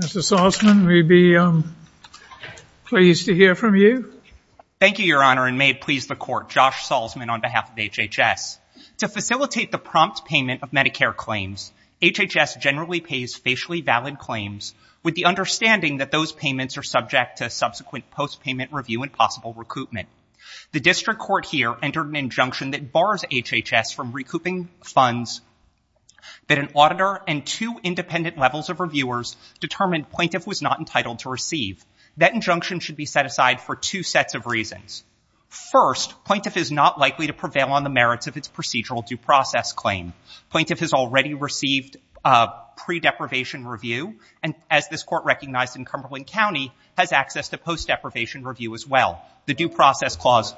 Mr. Salzman, we'd be pleased to hear from you. Thank you, Your Honor, and may it please the Court. Josh Salzman on behalf of HHS. To facilitate the prompt payment of Medicare claims, HHS generally pays facially valid claims with the understanding that those payments are subject to subsequent post-payment review and possible recoupment. The district court here entered an injunction that bars HHS from recouping funds that an auditor and two independent levels of reviewers determined plaintiff was not entitled to receive. That injunction should be set aside for two sets of reasons. First, plaintiff is not likely to prevail on the merits of its procedural due process claim. Plaintiff has already received pre-deprivation review, and as this Court recognized in Cumberland County, has access to post-deprivation review as well. The due process clause...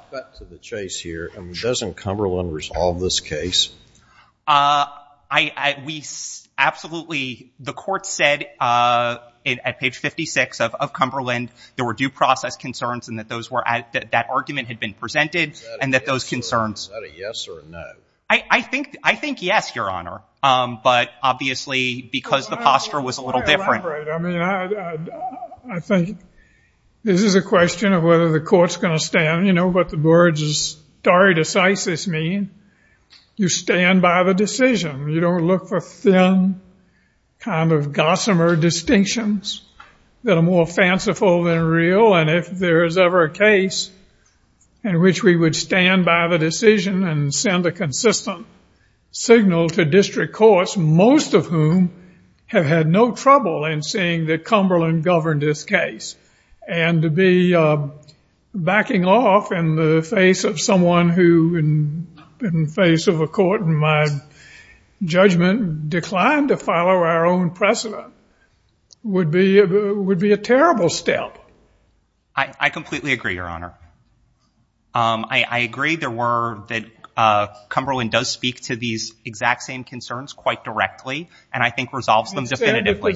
We absolutely... The Court said at page 56 of Cumberland there were due process concerns and that that argument had been presented and that those concerns... Is that a yes or a no? I think yes, Your Honor, but obviously because the posture was a little different. I mean, I think this is a question of whether the Court's going to stand. You know what the words stare decisis mean? You stand by the decision. You don't look for thin kind of gossamer distinctions that are more fanciful than real, and if there is ever a case in which we would stand by the decision and send a consistent signal to district courts, most of whom have had no trouble in seeing that Cumberland governed this case, and to be backing off in the face of someone who in the face of a court, in my judgment, declined to follow our own precedent would be a terrible step. I completely agree, Your Honor. I agree there were... Cumberland does speak to these exact same concerns quite directly and I think resolves them definitively.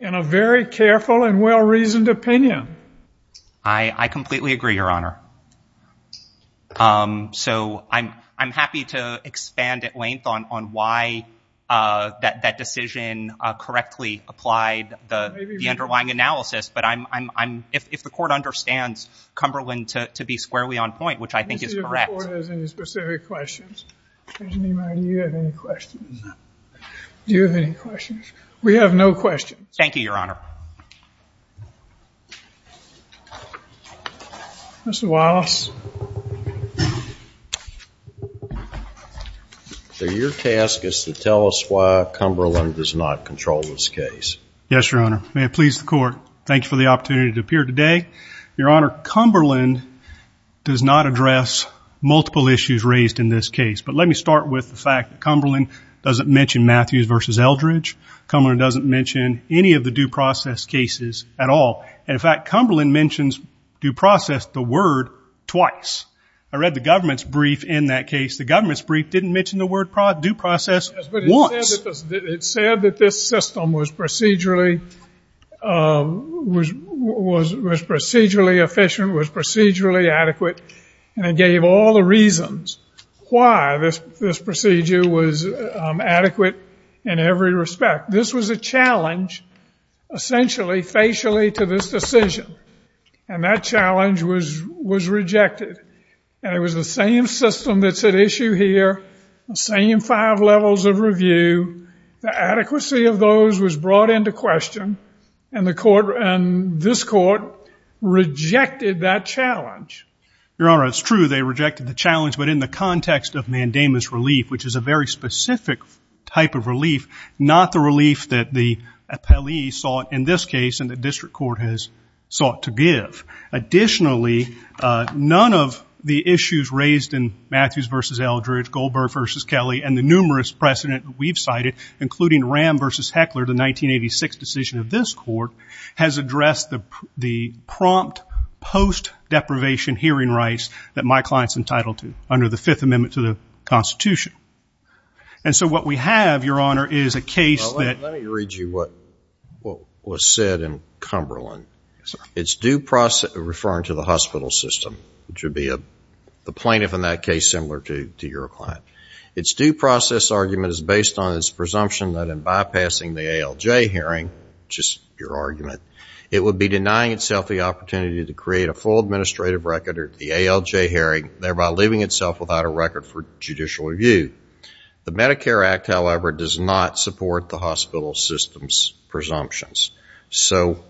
in a very careful and well-reasoned opinion. I completely agree, Your Honor. So I'm happy to expand at length on why that decision correctly applied the underlying analysis, but I'm... If the Court understands Cumberland to be squarely on point, which I think is correct. Does the Court have any specific questions? Judge Neiman, do you have any questions? Do you have any questions? We have no questions. Thank you, Your Honor. Mr. Wallace. So your task is to tell us why Cumberland does not control this case. Yes, Your Honor. May it please the Court, thank you for the opportunity to appear today. Your Honor, Cumberland does not address multiple issues raised in this case, but let me start with the fact that Cumberland doesn't mention Matthews v. Eldridge. Cumberland doesn't mention any of the due process cases at all. In fact, Cumberland mentions due process, the word, twice. I read the government's brief in that case. The government's brief didn't mention the word due process once. It said that this system was procedurally efficient, was procedurally adequate, and it gave all the reasons why this procedure was adequate in every respect. This was a challenge, essentially, facially to this decision, and that challenge was rejected. And it was the same system that's at issue here, the same five levels of review. The adequacy of those was brought into question, and this Court rejected that challenge. Your Honor, it's true they rejected the challenge, but in the context of mandamus relief, which is a very specific type of relief, not the relief that the appellee sought in this case and the district court has sought to give. Additionally, none of the issues raised in Matthews v. Eldridge, Goldberg v. Kelly, and the numerous precedent we've cited, including Ram v. Heckler, the 1986 decision of this Court, has addressed the prompt post-deprivation hearing rights that my client's entitled to under the Fifth Amendment to the Constitution. And so what we have, Your Honor, is a case that... Well, let me read you what was said in Cumberland. Yes, sir. It's due process... Referring to the hospital system, which would be the plaintiff in that case, similar to your client. It's due process argument is based on its presumption that in bypassing the ALJ hearing, which is your argument, it would be denying itself the opportunity to create a full administrative record at the ALJ hearing, thereby leaving itself without a record for judicial review. The Medicare Act, however, does not support the hospital system's presumptions. So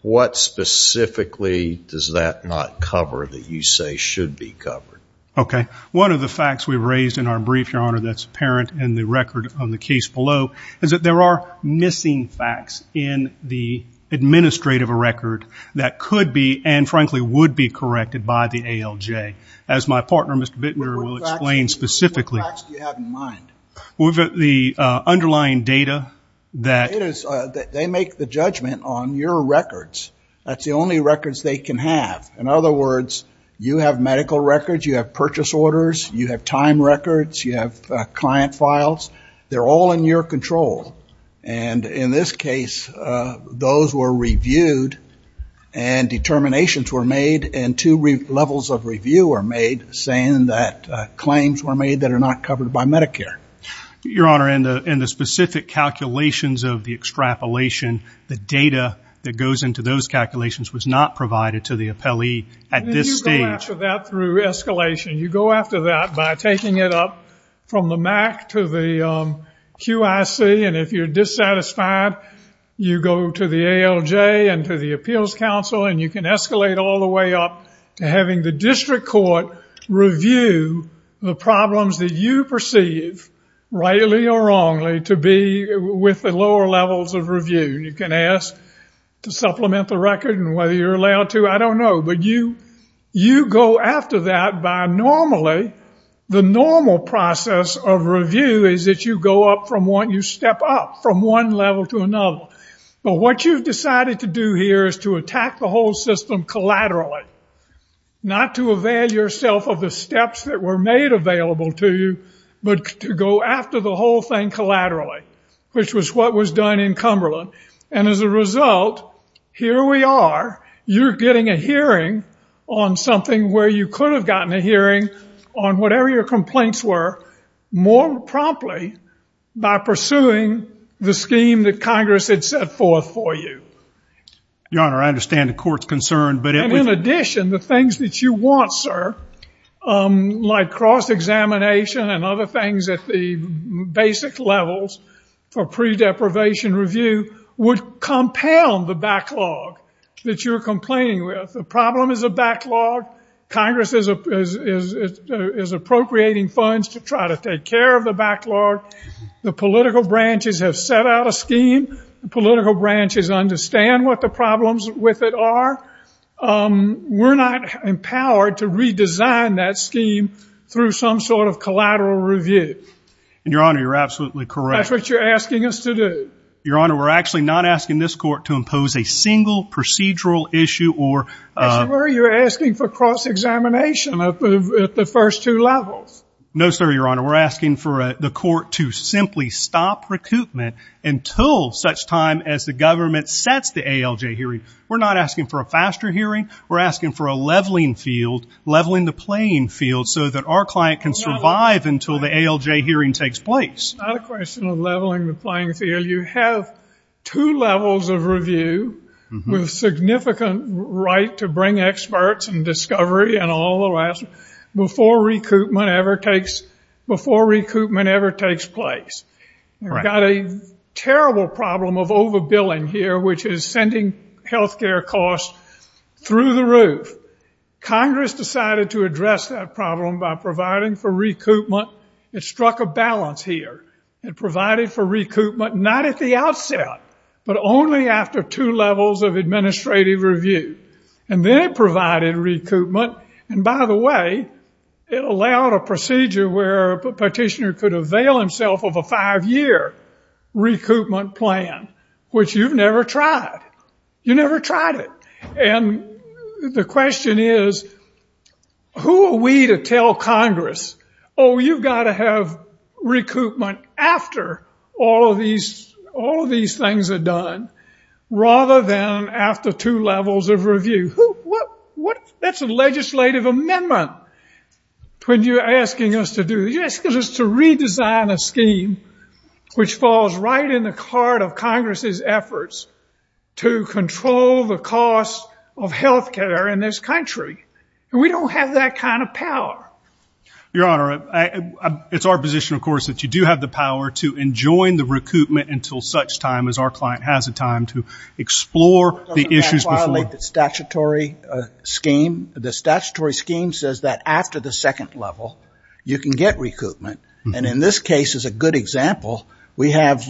what specifically does that not cover that you say should be covered? Okay. One of the facts we've raised in our brief, Your Honor, that's apparent in the record on the case below, is that there are missing facts in the administrative record that could be and, frankly, would be corrected by the ALJ. As my partner, Mr. Bittner, will explain specifically. What facts do you have in mind? The underlying data that... They make the judgment on your records. That's the only records they can have. In other words, you have medical records, you have purchase orders, you have time records, you have client files. They're all in your control. And in this case, those were reviewed and determinations were made and two levels of review were made, saying that claims were made that are not covered by Medicare. Your Honor, in the specific calculations of the extrapolation, the data that goes into those calculations was not provided to the appellee at this stage. You go after that through escalation. You go after that by taking it up from the MAC to the QIC, and if you're dissatisfied, you go to the ALJ and to the Appeals Council, and you can escalate all the way up to having the district court review the problems that you perceive, rightly or wrongly, to be with the lower levels of review. You can ask to supplement the record and whether you're allowed to. I don't know. But you go after that by normally... The normal process of review is that you go up from one... You step up from one level to another. But what you've decided to do here is to attack the whole system collaterally, not to avail yourself of the steps that were made available to you, but to go after the whole thing collaterally, which was what was done in Cumberland. And as a result, here we are. You're getting a hearing on something where you could have gotten a hearing on whatever your complaints were more promptly by pursuing the scheme that Congress had set forth for you. Your Honor, I understand the court's concern, but... And in addition, the things that you want, sir, like cross-examination and other things at the basic levels for pre-deprivation review, would compound the backlog that you're complaining with. The problem is a backlog. Congress is appropriating funds to try to take care of the backlog. The political branches have set out a scheme. The political branches understand what the problems with it are. We're not empowered to redesign that scheme through some sort of collateral review. Your Honor, you're absolutely correct. That's what you're asking us to do. Your Honor, we're actually not asking this court to impose a single procedural issue or... Mr. Murray, you're asking for cross-examination at the first two levels. No, sir, Your Honor. We're asking for the court to simply stop recoupment until such time as the government sets the ALJ hearing. We're not asking for a faster hearing. We're asking for a leveling field, leveling the playing field, so that our client can survive until the ALJ hearing takes place. It's not a question of leveling the playing field. You have two levels of review with significant right to bring experts and discovery and all the rest before recoupment ever takes place. We've got a terrible problem of overbilling here, which is sending health care costs through the roof. Congress decided to address that problem by providing for recoupment. It struck a balance here. It provided for recoupment not at the outset, but only after two levels of administrative review. And then it provided recoupment, and by the way, it allowed a procedure where a petitioner could avail himself of a five-year recoupment plan, which you've never tried. You never tried it. And the question is, who are we to tell Congress, oh, you've got to have recoupment after all of these things are done, rather than after two levels of review? That's a legislative amendment when you're asking us to do this. You're asking us to redesign a scheme which falls right in the card of Congress's efforts to control the cost of health care in this country. And we don't have that kind of power. Your Honor, it's our position, of course, that you do have the power to enjoin the recoupment until such time as our client has the time to explore the issues before. The statutory scheme says that after the second level you can get recoupment. And in this case, as a good example, we have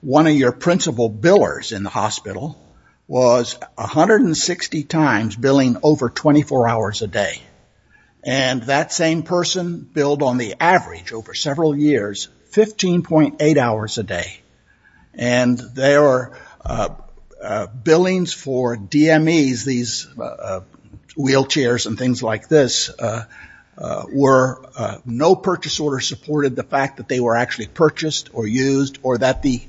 one of your principal billers in the hospital was 160 times billing over 24 hours a day. And that same person billed on the average over several years 15.8 hours a day. And their billings for DMEs, these wheelchairs and things like this, were no purchase order supported the fact that they were actually purchased or used or that the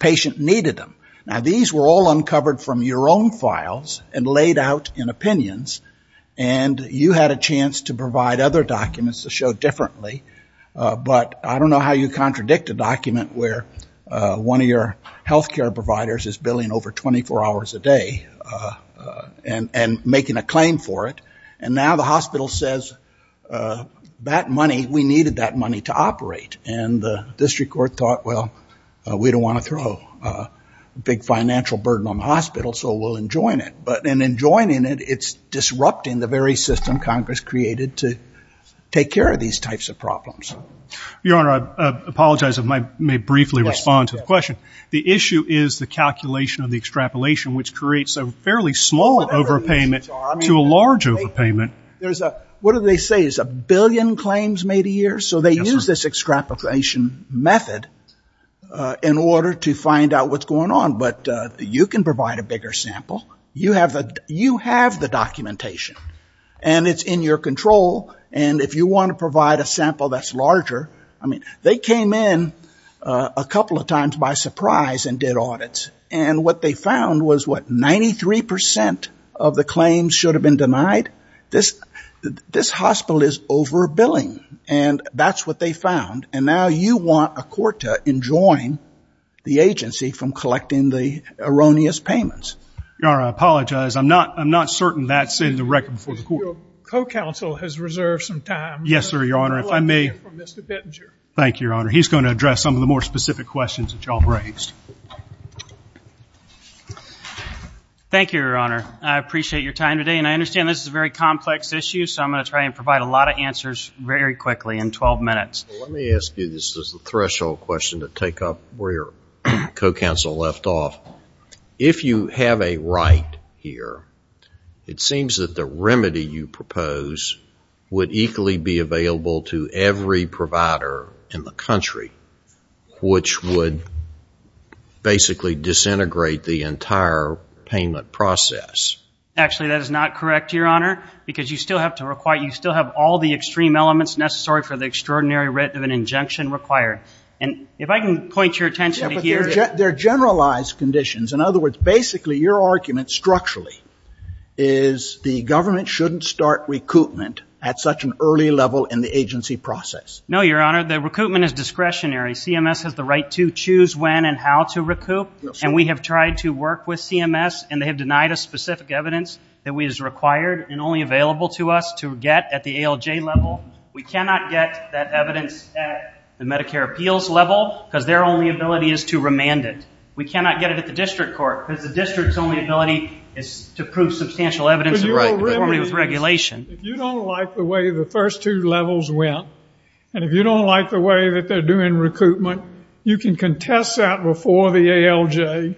patient needed them. Now, these were all uncovered from your own files and laid out in opinions, and you had a chance to provide other documents to show differently. But I don't know how you contradict a document where one of your health care providers is billing over 24 hours a day and making a claim for it, and now the hospital says, that money, we needed that money to operate. And the district court thought, well, we don't want to throw a big financial burden on the hospital, so we'll enjoin it. But in enjoining it, it's disrupting the very system Congress created to take care of these types of problems. Your Honor, I apologize if I may briefly respond to the question. The issue is the calculation of the extrapolation, which creates a fairly small overpayment to a large overpayment. So they use this extrapolation method in order to find out what's going on. But you can provide a bigger sample. You have the documentation, and it's in your control. And if you want to provide a sample that's larger, I mean, they came in a couple of times by surprise and did audits. And what they found was, what, 93% of the claims should have been denied? This hospital is overbilling, and that's what they found. And now you want a court to enjoin the agency from collecting the erroneous payments. Your Honor, I apologize. I'm not certain that's in the record before the court. Your co-counsel has reserved some time. Yes, sir, Your Honor. If I may. I'd like to hear from Mr. Bittenger. Thank you, Your Honor. He's going to address some of the more specific questions that you all raised. Thank you, Your Honor. I appreciate your time today. And I understand this is a very complex issue, so I'm going to try and provide a lot of answers very quickly in 12 minutes. Let me ask you this as a threshold question to take up where your co-counsel left off. If you have a right here, it seems that the remedy you propose would equally be available to every provider in the country, which would basically disintegrate the entire payment process. Actually, that is not correct, Your Honor, because you still have to require you still have all the extreme elements necessary for the extraordinary writ of an injunction required. And if I can point your attention to here. Yeah, but they're generalized conditions. In other words, basically your argument structurally is the government shouldn't start recoupment at such an early level in the agency process. No, Your Honor. The recoupment is discretionary. CMS has the right to choose when and how to recoup. And we have tried to work with CMS, and they have denied us specific evidence that is required and only available to us to get at the ALJ level. We cannot get that evidence at the Medicare appeals level because their only ability is to remand it. We cannot get it at the district court because the district's only ability is to prove substantial evidence of conformity with regulation. If you don't like the way the first two levels went, and if you don't like the way that they're doing recoupment, you can contest that before the ALJ.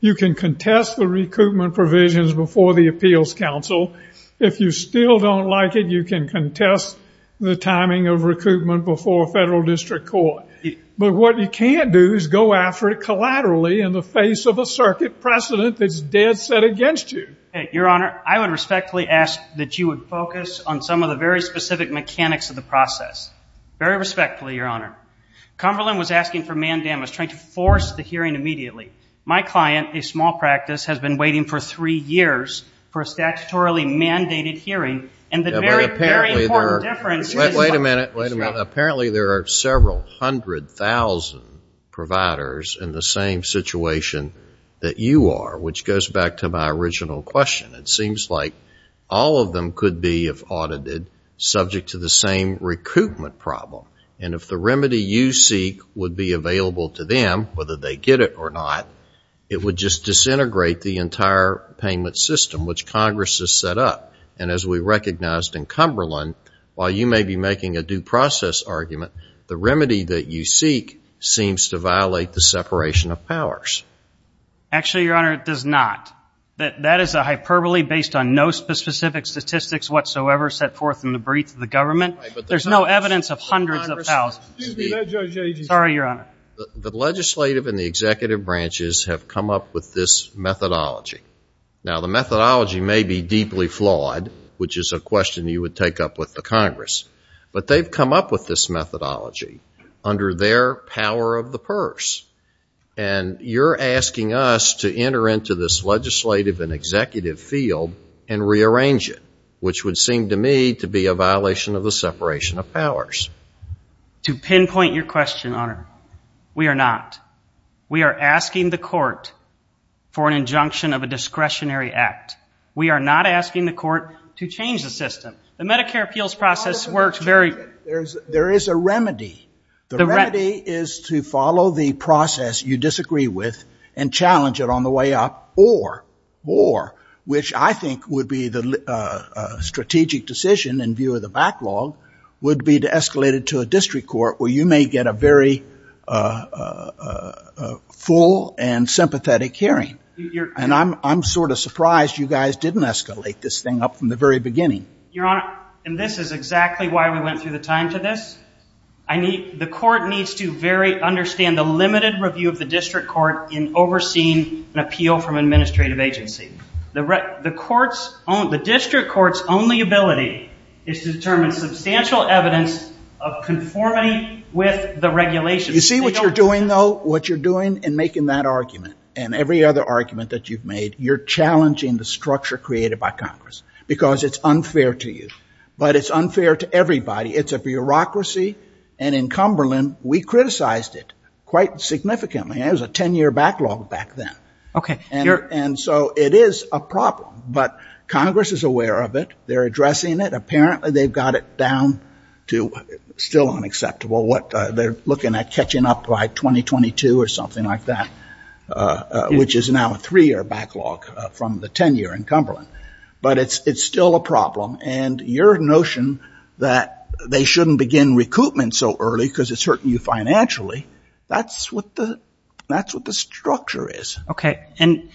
You can contest the recoupment provisions before the appeals council. If you still don't like it, you can contest the timing of recoupment before a federal district court. But what you can't do is go after it collaterally in the face of a circuit precedent that's dead set against you. Your Honor, I would respectfully ask that you would focus on some of the very specific mechanics of the process. Very respectfully, Your Honor. Cumberland was asking for mandamus, trying to force the hearing immediately. My client, a small practice, has been waiting for three years for a statutorily mandated hearing, and the very important difference is... Wait a minute, wait a minute. Apparently there are several hundred thousand providers in the same situation that you are, which goes back to my original question. It seems like all of them could be, if audited, subject to the same recoupment problem. And if the remedy you seek would be available to them, whether they get it or not, it would just disintegrate the entire payment system, which Congress has set up. And as we recognized in Cumberland, while you may be making a due process argument, the remedy that you seek seems to violate the separation of powers. Actually, Your Honor, it does not. That is a hyperbole based on no specific statistics whatsoever set forth in the brief of the government. There's no evidence of hundreds of thousands. Sorry, Your Honor. The legislative and the executive branches have come up with this methodology. Now, the methodology may be deeply flawed, which is a question you would take up with the Congress, but they've come up with this methodology under their power of the purse. And you're asking us to enter into this legislative and executive field and rearrange it, which would seem to me to be a violation of the separation of powers. To pinpoint your question, Your Honor, we are not. We are asking the court for an injunction of a discretionary act. We are not asking the court to change the system. The Medicare appeals process works very... There is a remedy. The remedy is to follow the process you disagree with and challenge it on the way up, or, which I think would be the strategic decision in view of the backlog, would be to escalate it to a district court where you may get a very full and sympathetic hearing. And I'm sort of surprised you guys didn't escalate this thing up from the very beginning. Your Honor, and this is exactly why we went through the time to this. The court needs to understand the limited review of the district court in overseeing an appeal from an administrative agency. The district court's only ability is to determine substantial evidence of conformity with the regulations. You see what you're doing, though? What you're doing in making that argument and every other argument that you've made, you're challenging the structure created by Congress because it's unfair to you. But it's unfair to everybody. It's a bureaucracy, and in Cumberland, we criticized it quite significantly. It was a 10-year backlog back then. Okay. And so it is a problem, but Congress is aware of it. They're addressing it. Apparently, they've got it down to still unacceptable. They're looking at catching up by 2022 or something like that, which is now a three-year backlog from the 10-year in Cumberland. But it's still a problem, and your notion that they shouldn't begin recoupment so early because it's hurting you financially, that's what the structure is. Okay, and,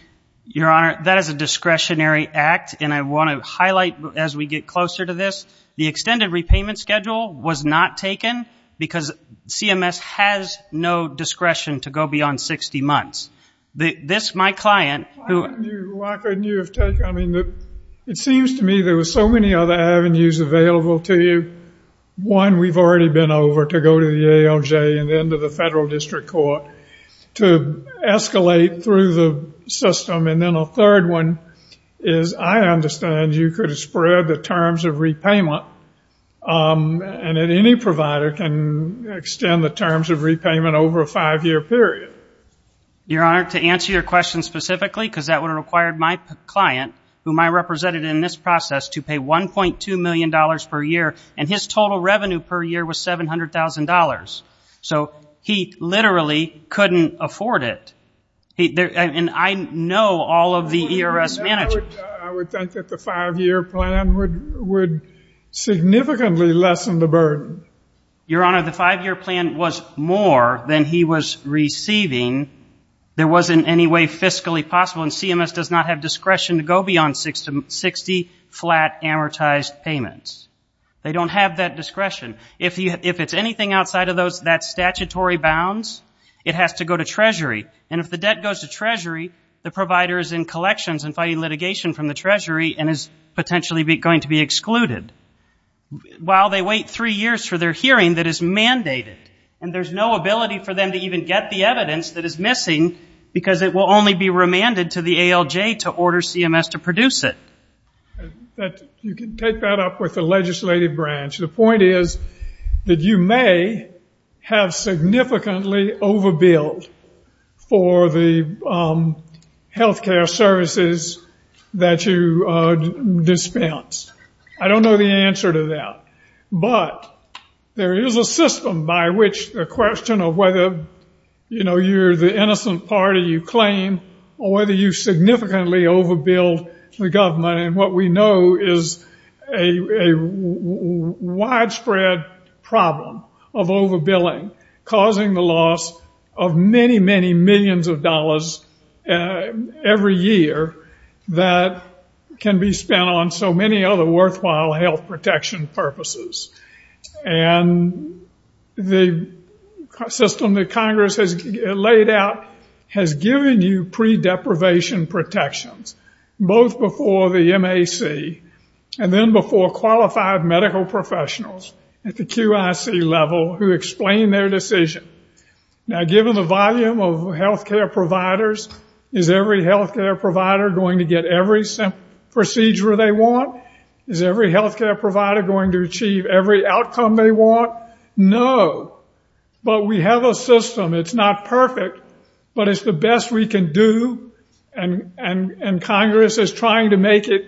Your Honor, that is a discretionary act, and I want to highlight, as we get closer to this, the extended repayment schedule was not taken because CMS has no discretion to go beyond 60 months. This, my client, who... Why couldn't you have taken... I mean, it seems to me there were so many other avenues available to you. One, we've already been over to go to the ALJ and then to the federal district court to escalate through the system. And then a third one is I understand you could have spread the terms of repayment and that any provider can extend the terms of repayment over a five-year period. Your Honor, to answer your question specifically, because that would have required my client, whom I represented in this process, to pay $1.2 million per year, and his total revenue per year was $700,000. So he literally couldn't afford it. And I know all of the ERS managers. I would think that the five-year plan would significantly lessen the burden. Your Honor, the five-year plan was more than he was receiving. There wasn't any way fiscally possible, and CMS does not have discretion to go beyond 60 flat amortized payments. They don't have that discretion. If it's anything outside of that statutory bounds, it has to go to Treasury, and if the debt goes to Treasury, the provider is in collections and fighting litigation from the Treasury and is potentially going to be excluded. While they wait three years for their hearing that is mandated, and there's no ability for them to even get the evidence that is missing because it will only be remanded to the ALJ to order CMS to produce it. You can take that up with the legislative branch. The point is that you may have significantly overbilled for the health care services that you dispensed. I don't know the answer to that. But there is a system by which the question of whether, you know, you're the innocent party you claim or whether you significantly overbilled the government, and what we know is a widespread problem of overbilling, causing the loss of many, many millions of dollars every year that can be spent on so many other worthwhile health protection purposes. And the system that Congress has laid out has given you pre-deprivation protections, both before the MAC and then before qualified medical professionals at the QIC level who explain their decision. Now, given the volume of health care providers, is every health care provider going to get every procedure they want? Is every health care provider going to achieve every outcome they want? No. But we have a system. It's not perfect, but it's the best we can do and Congress is trying to make it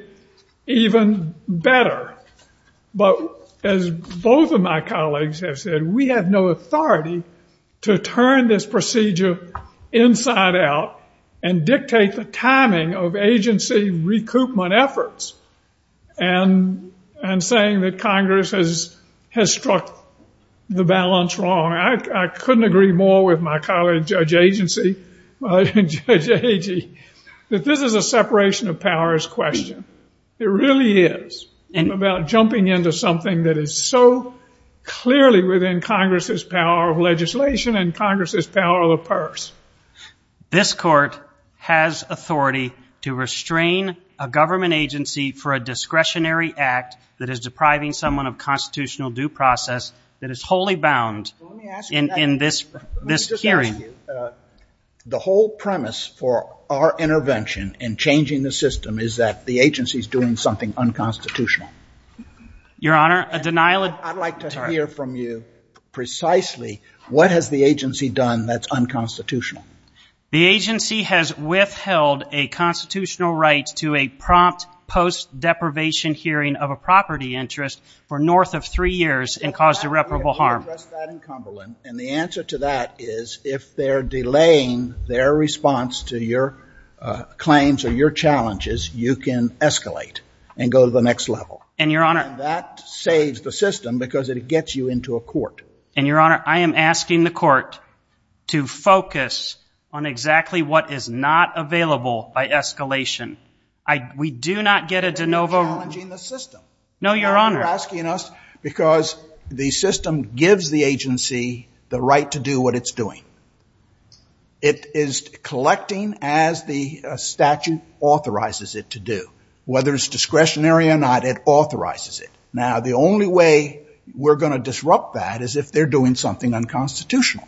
even better. But as both of my colleagues have said, we have no authority to turn this procedure inside out and dictate the timing of agency recoupment efforts and saying that Congress has struck the balance wrong. I couldn't agree more with my colleague Judge Agee that this is a separation of powers question. It really is about jumping into something that is so clearly within Congress's power of legislation and Congress's power of the purse. This court has authority to restrain a government agency for a discretionary act that is depriving someone of constitutional due process that is wholly bound in this hearing. Let me just ask you. The whole premise for our intervention in changing the system is that the agency is doing something unconstitutional. Your Honor, a denial of... I'd like to hear from you precisely what has the agency done that's unconstitutional. The agency has withheld a constitutional right to a prompt post-deprivation hearing of a property interest for north of three years and caused irreparable harm. We addressed that in Cumberland, and the answer to that is if they're delaying their response to your claims or your challenges, you can escalate and go to the next level. And, Your Honor... And that saves the system because it gets you into a court. And, Your Honor, I am asking the court to focus on exactly what is not available by escalation. We do not get a de novo... I'm asking us because the system gives the agency the right to do what it's doing. It is collecting as the statute authorizes it to do. Whether it's discretionary or not, it authorizes it. Now, the only way we're going to disrupt that is if they're doing something unconstitutional.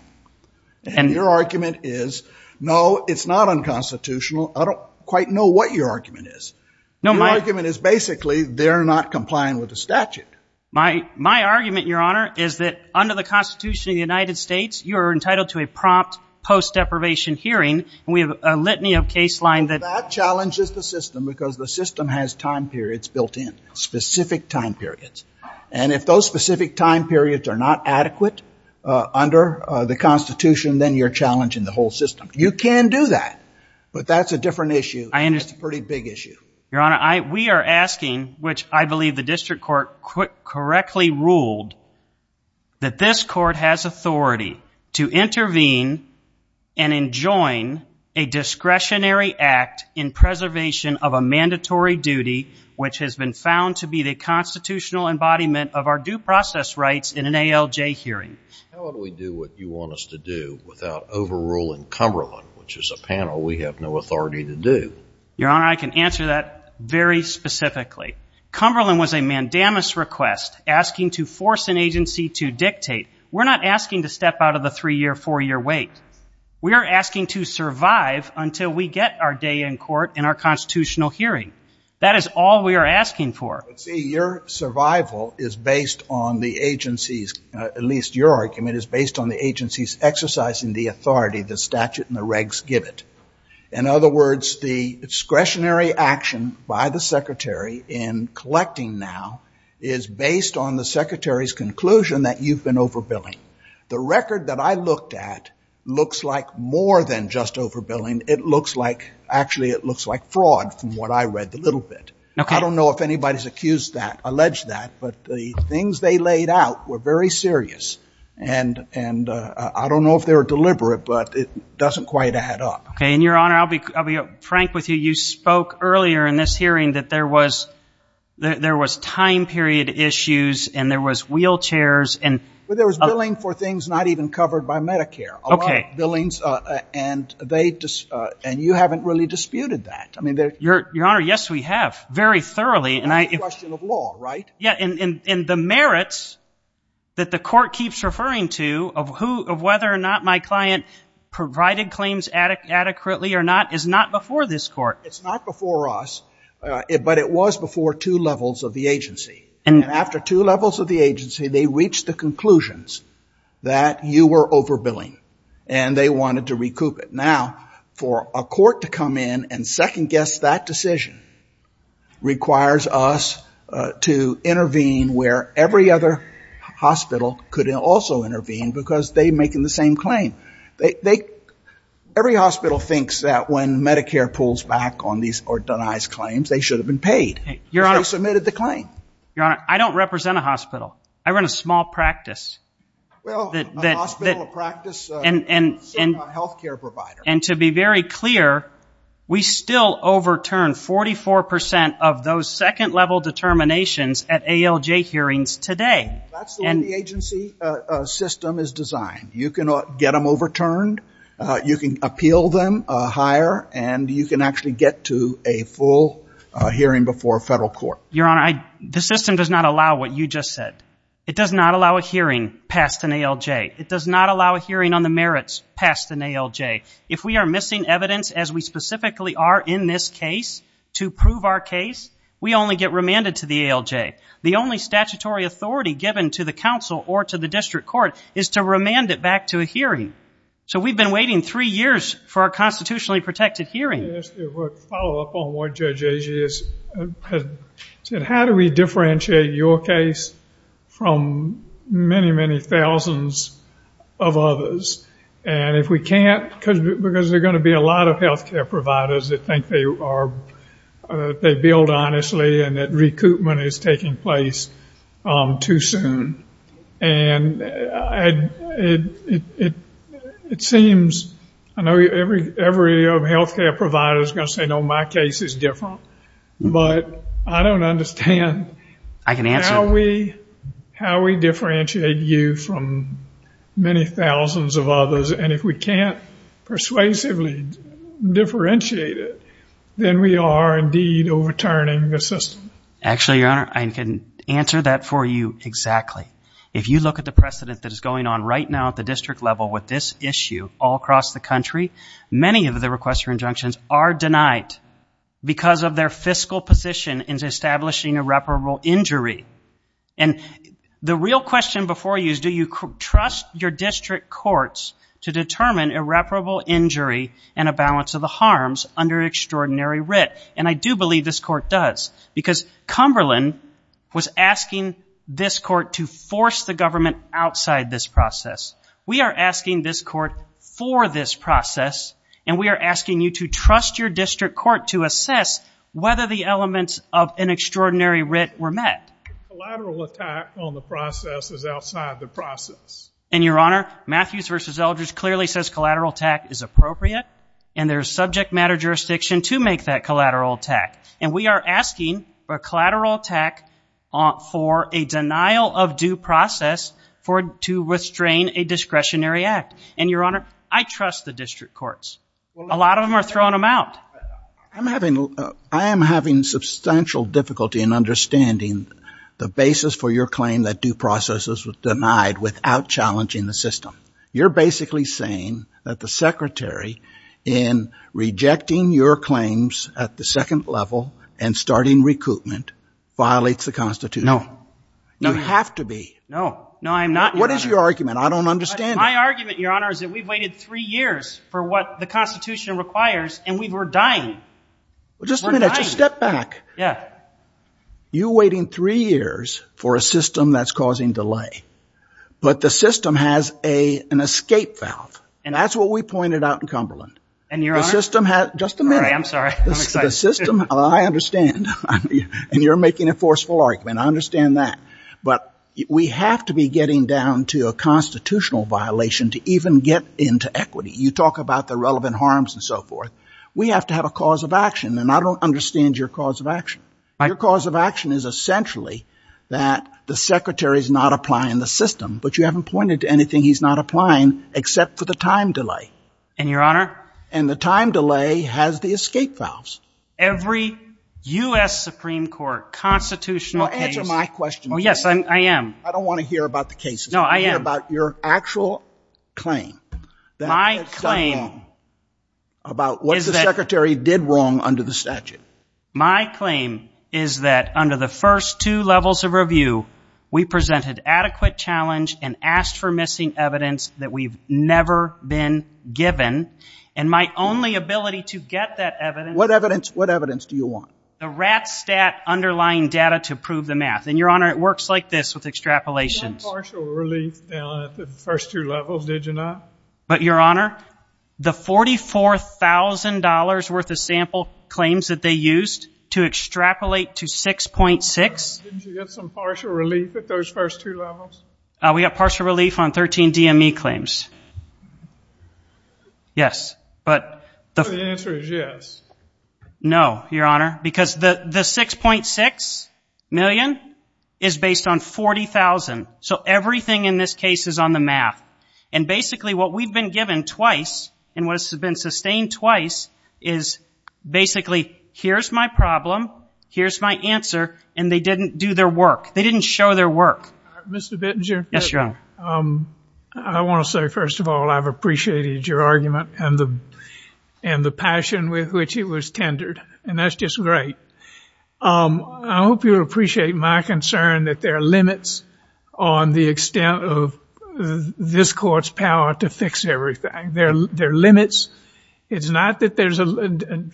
And your argument is, no, it's not unconstitutional. I don't quite know what your argument is. Your argument is, basically, they're not complying with the statute. My argument, Your Honor, is that under the Constitution of the United States, you're entitled to a prompt post-deprivation hearing, and we have a litany of case line that... That challenges the system because the system has time periods built in, specific time periods. And if those specific time periods are not adequate under the Constitution, then you're challenging the whole system. You can do that, but that's a different issue. That's a pretty big issue. Your Honor, we are asking, which I believe the district court correctly ruled, that this court has authority to intervene and enjoin a discretionary act in preservation of a mandatory duty which has been found to be the constitutional embodiment of our due process rights in an ALJ hearing. How would we do what you want us to do without overruling Cumberland, which is a panel we have no authority to do? Your Honor, I can answer that very specifically. Cumberland was a mandamus request asking to force an agency to dictate. We're not asking to step out of the 3-year, 4-year wait. We are asking to survive until we get our day in court in our constitutional hearing. That is all we are asking for. But see, your survival is based on the agency's, at least your argument, is based on the agency's exercising the authority, the statute and the regs give it. In other words, the discretionary action by the secretary in collecting now is based on the secretary's conclusion that you've been overbilling. The record that I looked at looks like more than just overbilling. It looks like, actually, it looks like fraud from what I read the little bit. I don't know if anybody's accused that, alleged that, but the things they laid out were very serious, and I don't know if they were deliberate, but it doesn't quite add up. Okay, and, Your Honor, I'll be frank with you. You spoke earlier in this hearing that there was time period issues, and there was wheelchairs, and... Well, there was billing for things not even covered by Medicare. Okay. A lot of billings, and they... and you haven't really disputed that. I mean, there... Your Honor, yes, we have, very thoroughly, and I... It's a question of law, right? Yeah, and the merits that the court keeps referring to of whether or not my client provided claims adequately or not is not before this court. It's not before us, but it was before two levels of the agency. And after two levels of the agency, they reached the conclusions that you were overbilling, and they wanted to recoup it. Now, for a court to come in and second-guess that decision requires us to intervene where every other hospital could also intervene because they're making the same claim. They... Every hospital thinks that when Medicare pulls back on these or denies claims, they should have been paid, because they submitted the claim. Your Honor, I don't represent a hospital. I run a small practice. Well, a hospital, a practice, a health care provider. And to be very clear, we still overturn 44% of those second-level determinations at ALJ hearings today. That's the way the agency system is designed. You can get them overturned, you can appeal them higher, and you can actually get to a full hearing before a federal court. Your Honor, the system does not allow what you just said. It does not allow a hearing passed in ALJ. It does not allow a hearing on the merits passed in ALJ. If we are missing evidence, as we specifically are in this case, to prove our case, we only get remanded to the ALJ. The only statutory authority given to the council or to the district court is to remand it back to a hearing. So we've been waiting three years for a constitutionally protected hearing. Just to follow up on what Judge Agee has said, how do we differentiate your case from many, many thousands of others? And if we can't, because there are going to be a lot of health care providers that think they build honestly and that recoupment is taking place too soon. And it seems, I know every health care provider is going to say, no, my case is different, but I don't understand how we differentiate you from many thousands of others. And if we can't persuasively differentiate it, then we are indeed overturning the system. Actually, Your Honor, I can answer that for you exactly. If you look at the precedent that is going on right now at the district level with this issue all across the country, many of the requests for injunctions are denied because of their fiscal position in establishing irreparable injury. And the real question before you is, do you trust your district courts to determine irreparable injury and a balance of the harms under extraordinary writ? And I do believe this court does, because Cumberland was asking this court to force the government outside this process. We are asking this court for this process, and we are asking you to trust your district court to assess whether the elements of an extraordinary writ were met. Collateral attack on the process is outside the process. And, Your Honor, Matthews v. Eldridge clearly says collateral attack is appropriate, and there is subject matter jurisdiction to make that collateral attack. And we are asking for collateral attack for a denial of due process to restrain a discretionary act. And, Your Honor, I trust the district courts. A lot of them are throwing them out. I am having substantial difficulty in understanding the basis for your claim that due process was denied without challenging the system. You're basically saying that the secretary, in rejecting your claims at the second level and starting recoupment, violates the Constitution. No. You have to be. No. No, I'm not, Your Honor. What is your argument? I don't understand it. My argument, Your Honor, is that we've waited three years for what the Constitution requires, and we were dying. Just a minute. Step back. Yeah. You're waiting three years for a system that's causing delay, but the system has an escape valve. And that's what we pointed out in Cumberland. And, Your Honor? Just a minute. All right, I'm sorry. I'm excited. The system, I understand, and you're making a forceful argument. I understand that. But we have to be getting down to a constitutional violation to even get into equity. You talk about the relevant harms and so forth. We have to have a cause of action, and I don't understand your cause of action. Your cause of action is, essentially, that the Secretary's not applying the system, but you haven't pointed to anything he's not applying except for the time delay. And, Your Honor? And the time delay has the escape valves. Every U.S. Supreme Court constitutional case. Well, answer my question. Oh, yes, I am. I don't want to hear about the cases. No, I am. I want to hear about your actual claim. My claim is that under the first two levels of review, we presented adequate challenge and asked for missing evidence that we've never been given. And my only ability to get that evidence... What evidence? What evidence do you want? The RATS stat underlying data to prove the math. And, Your Honor, it works like this with extrapolations. Didn't you get some partial relief down at the first two levels, did you not? But, Your Honor, the $44,000 worth of sample claims that they used to extrapolate to 6.6... Didn't you get some partial relief at those first two levels? We got partial relief on 13 DME claims. Yes, but... The answer is yes. No, Your Honor, because the 6.6 million is based on 40,000. So everything in this case is on the math. And basically what we've been given twice and what has been sustained twice is basically here's my problem, here's my answer, and they didn't do their work. They didn't show their work. Mr. Bittinger? Yes, Your Honor. I want to say, first of all, I've appreciated your argument and the passion with which it was tendered. And that's just great. I hope you'll appreciate my concern that there are limits on the extent of this court's power to fix everything. There are limits. It's not that there's a...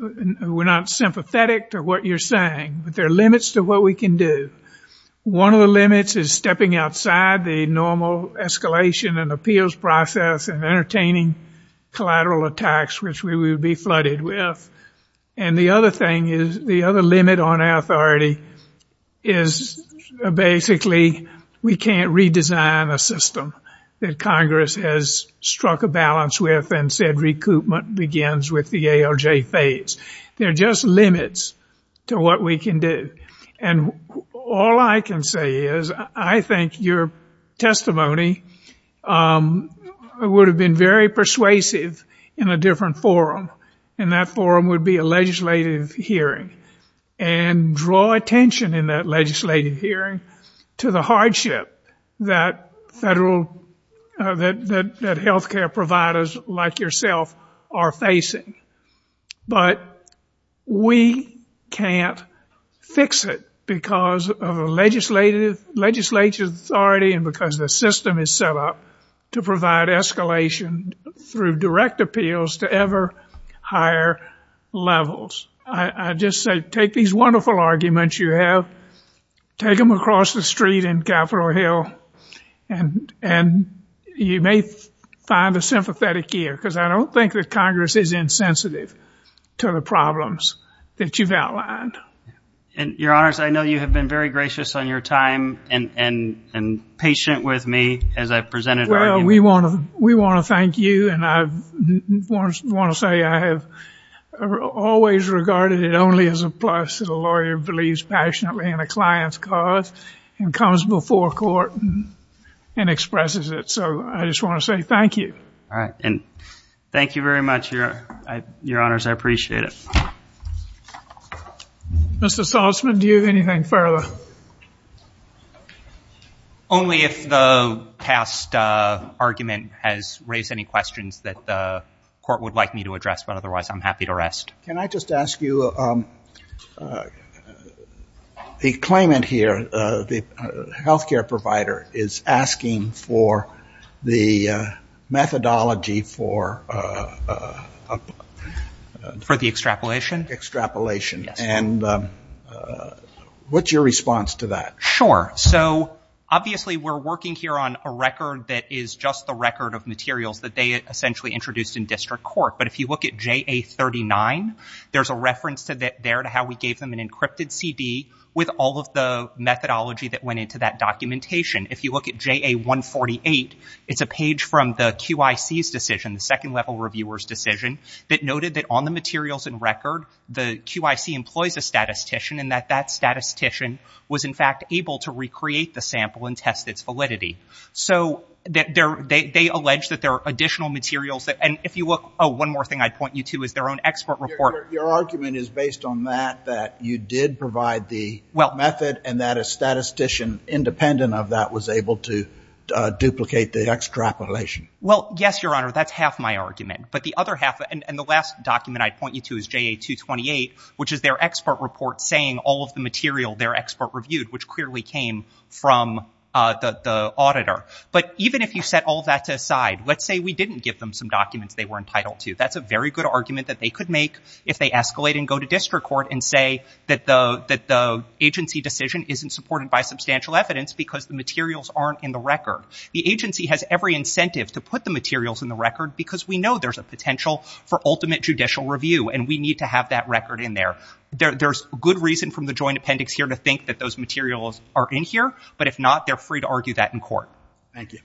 We're not sympathetic to what you're saying, but there are limits to what we can do. One of the limits is stepping outside the normal escalation and appeals process and entertaining collateral attacks, which we would be flooded with. And the other thing is, the other limit on our authority is basically we can't redesign a system that Congress has struck a balance with and said recoupment begins with the ALJ phase. There are just limits to what we can do. And all I can say is I think your testimony would have been very persuasive in a different forum, and that forum would be a legislative hearing. And draw attention in that legislative hearing to the hardship that health care providers like yourself are facing. But we can't fix it because of a legislative authority and because the system is set up to provide escalation through direct appeals to ever higher levels. I just say take these wonderful arguments you have, take them across the street in Capitol Hill, and you may find a sympathetic ear because I don't think that Congress is insensitive to the problems that you've outlined. And, Your Honors, I know you have been very gracious on your time and patient with me as I presented my argument. Well, we want to thank you, and I want to say I have always regarded it only as a plus that a lawyer believes passionately in a client's cause and comes before court and expresses it. So I just want to say thank you. All right, and thank you very much, Your Honors. I appreciate it. Mr. Salzman, do you have anything further? Only if the past argument has raised any questions that the court would like me to address, but otherwise I'm happy to rest. Can I just ask you, the claimant here, the health care provider, is asking for the methodology for... For the extrapolation? Extrapolation. Yes. And what's your response to that? Sure. So obviously we're working here on a record that is just the record of materials that they essentially introduced in district court. But if you look at JA39, there's a reference there to how we gave them an encrypted CD with all of the methodology that went into that documentation. If you look at JA148, it's a page from the QIC's decision, the Second Level Reviewer's decision, that noted that on the materials in record, the QIC employs a statistician and that that statistician was, in fact, able to recreate the sample and test its validity. So they allege that there are additional materials that... And if you look... Oh, one more thing I'd point you to is their own expert report. Your argument is based on that, that you did provide the method and that a statistician independent of that was able to duplicate the extrapolation. Well, yes, Your Honor, that's half my argument. But the other half... And the last document I'd point you to is JA228, which is their expert report saying all of the material their expert reviewed, which clearly came from the auditor. But even if you set all that aside, let's say we didn't give them some documents they were entitled to. That's a very good argument that they could make if they escalate and go to district court and say that the agency decision isn't supported by substantial evidence because the materials aren't in the record. The agency has every incentive to put the materials in the record because we know there's a potential for ultimate judicial review, and we need to have that record in there. There's good reason from the joint appendix here to think that those materials are in here, but if not, they're free to argue that in court. Thank you.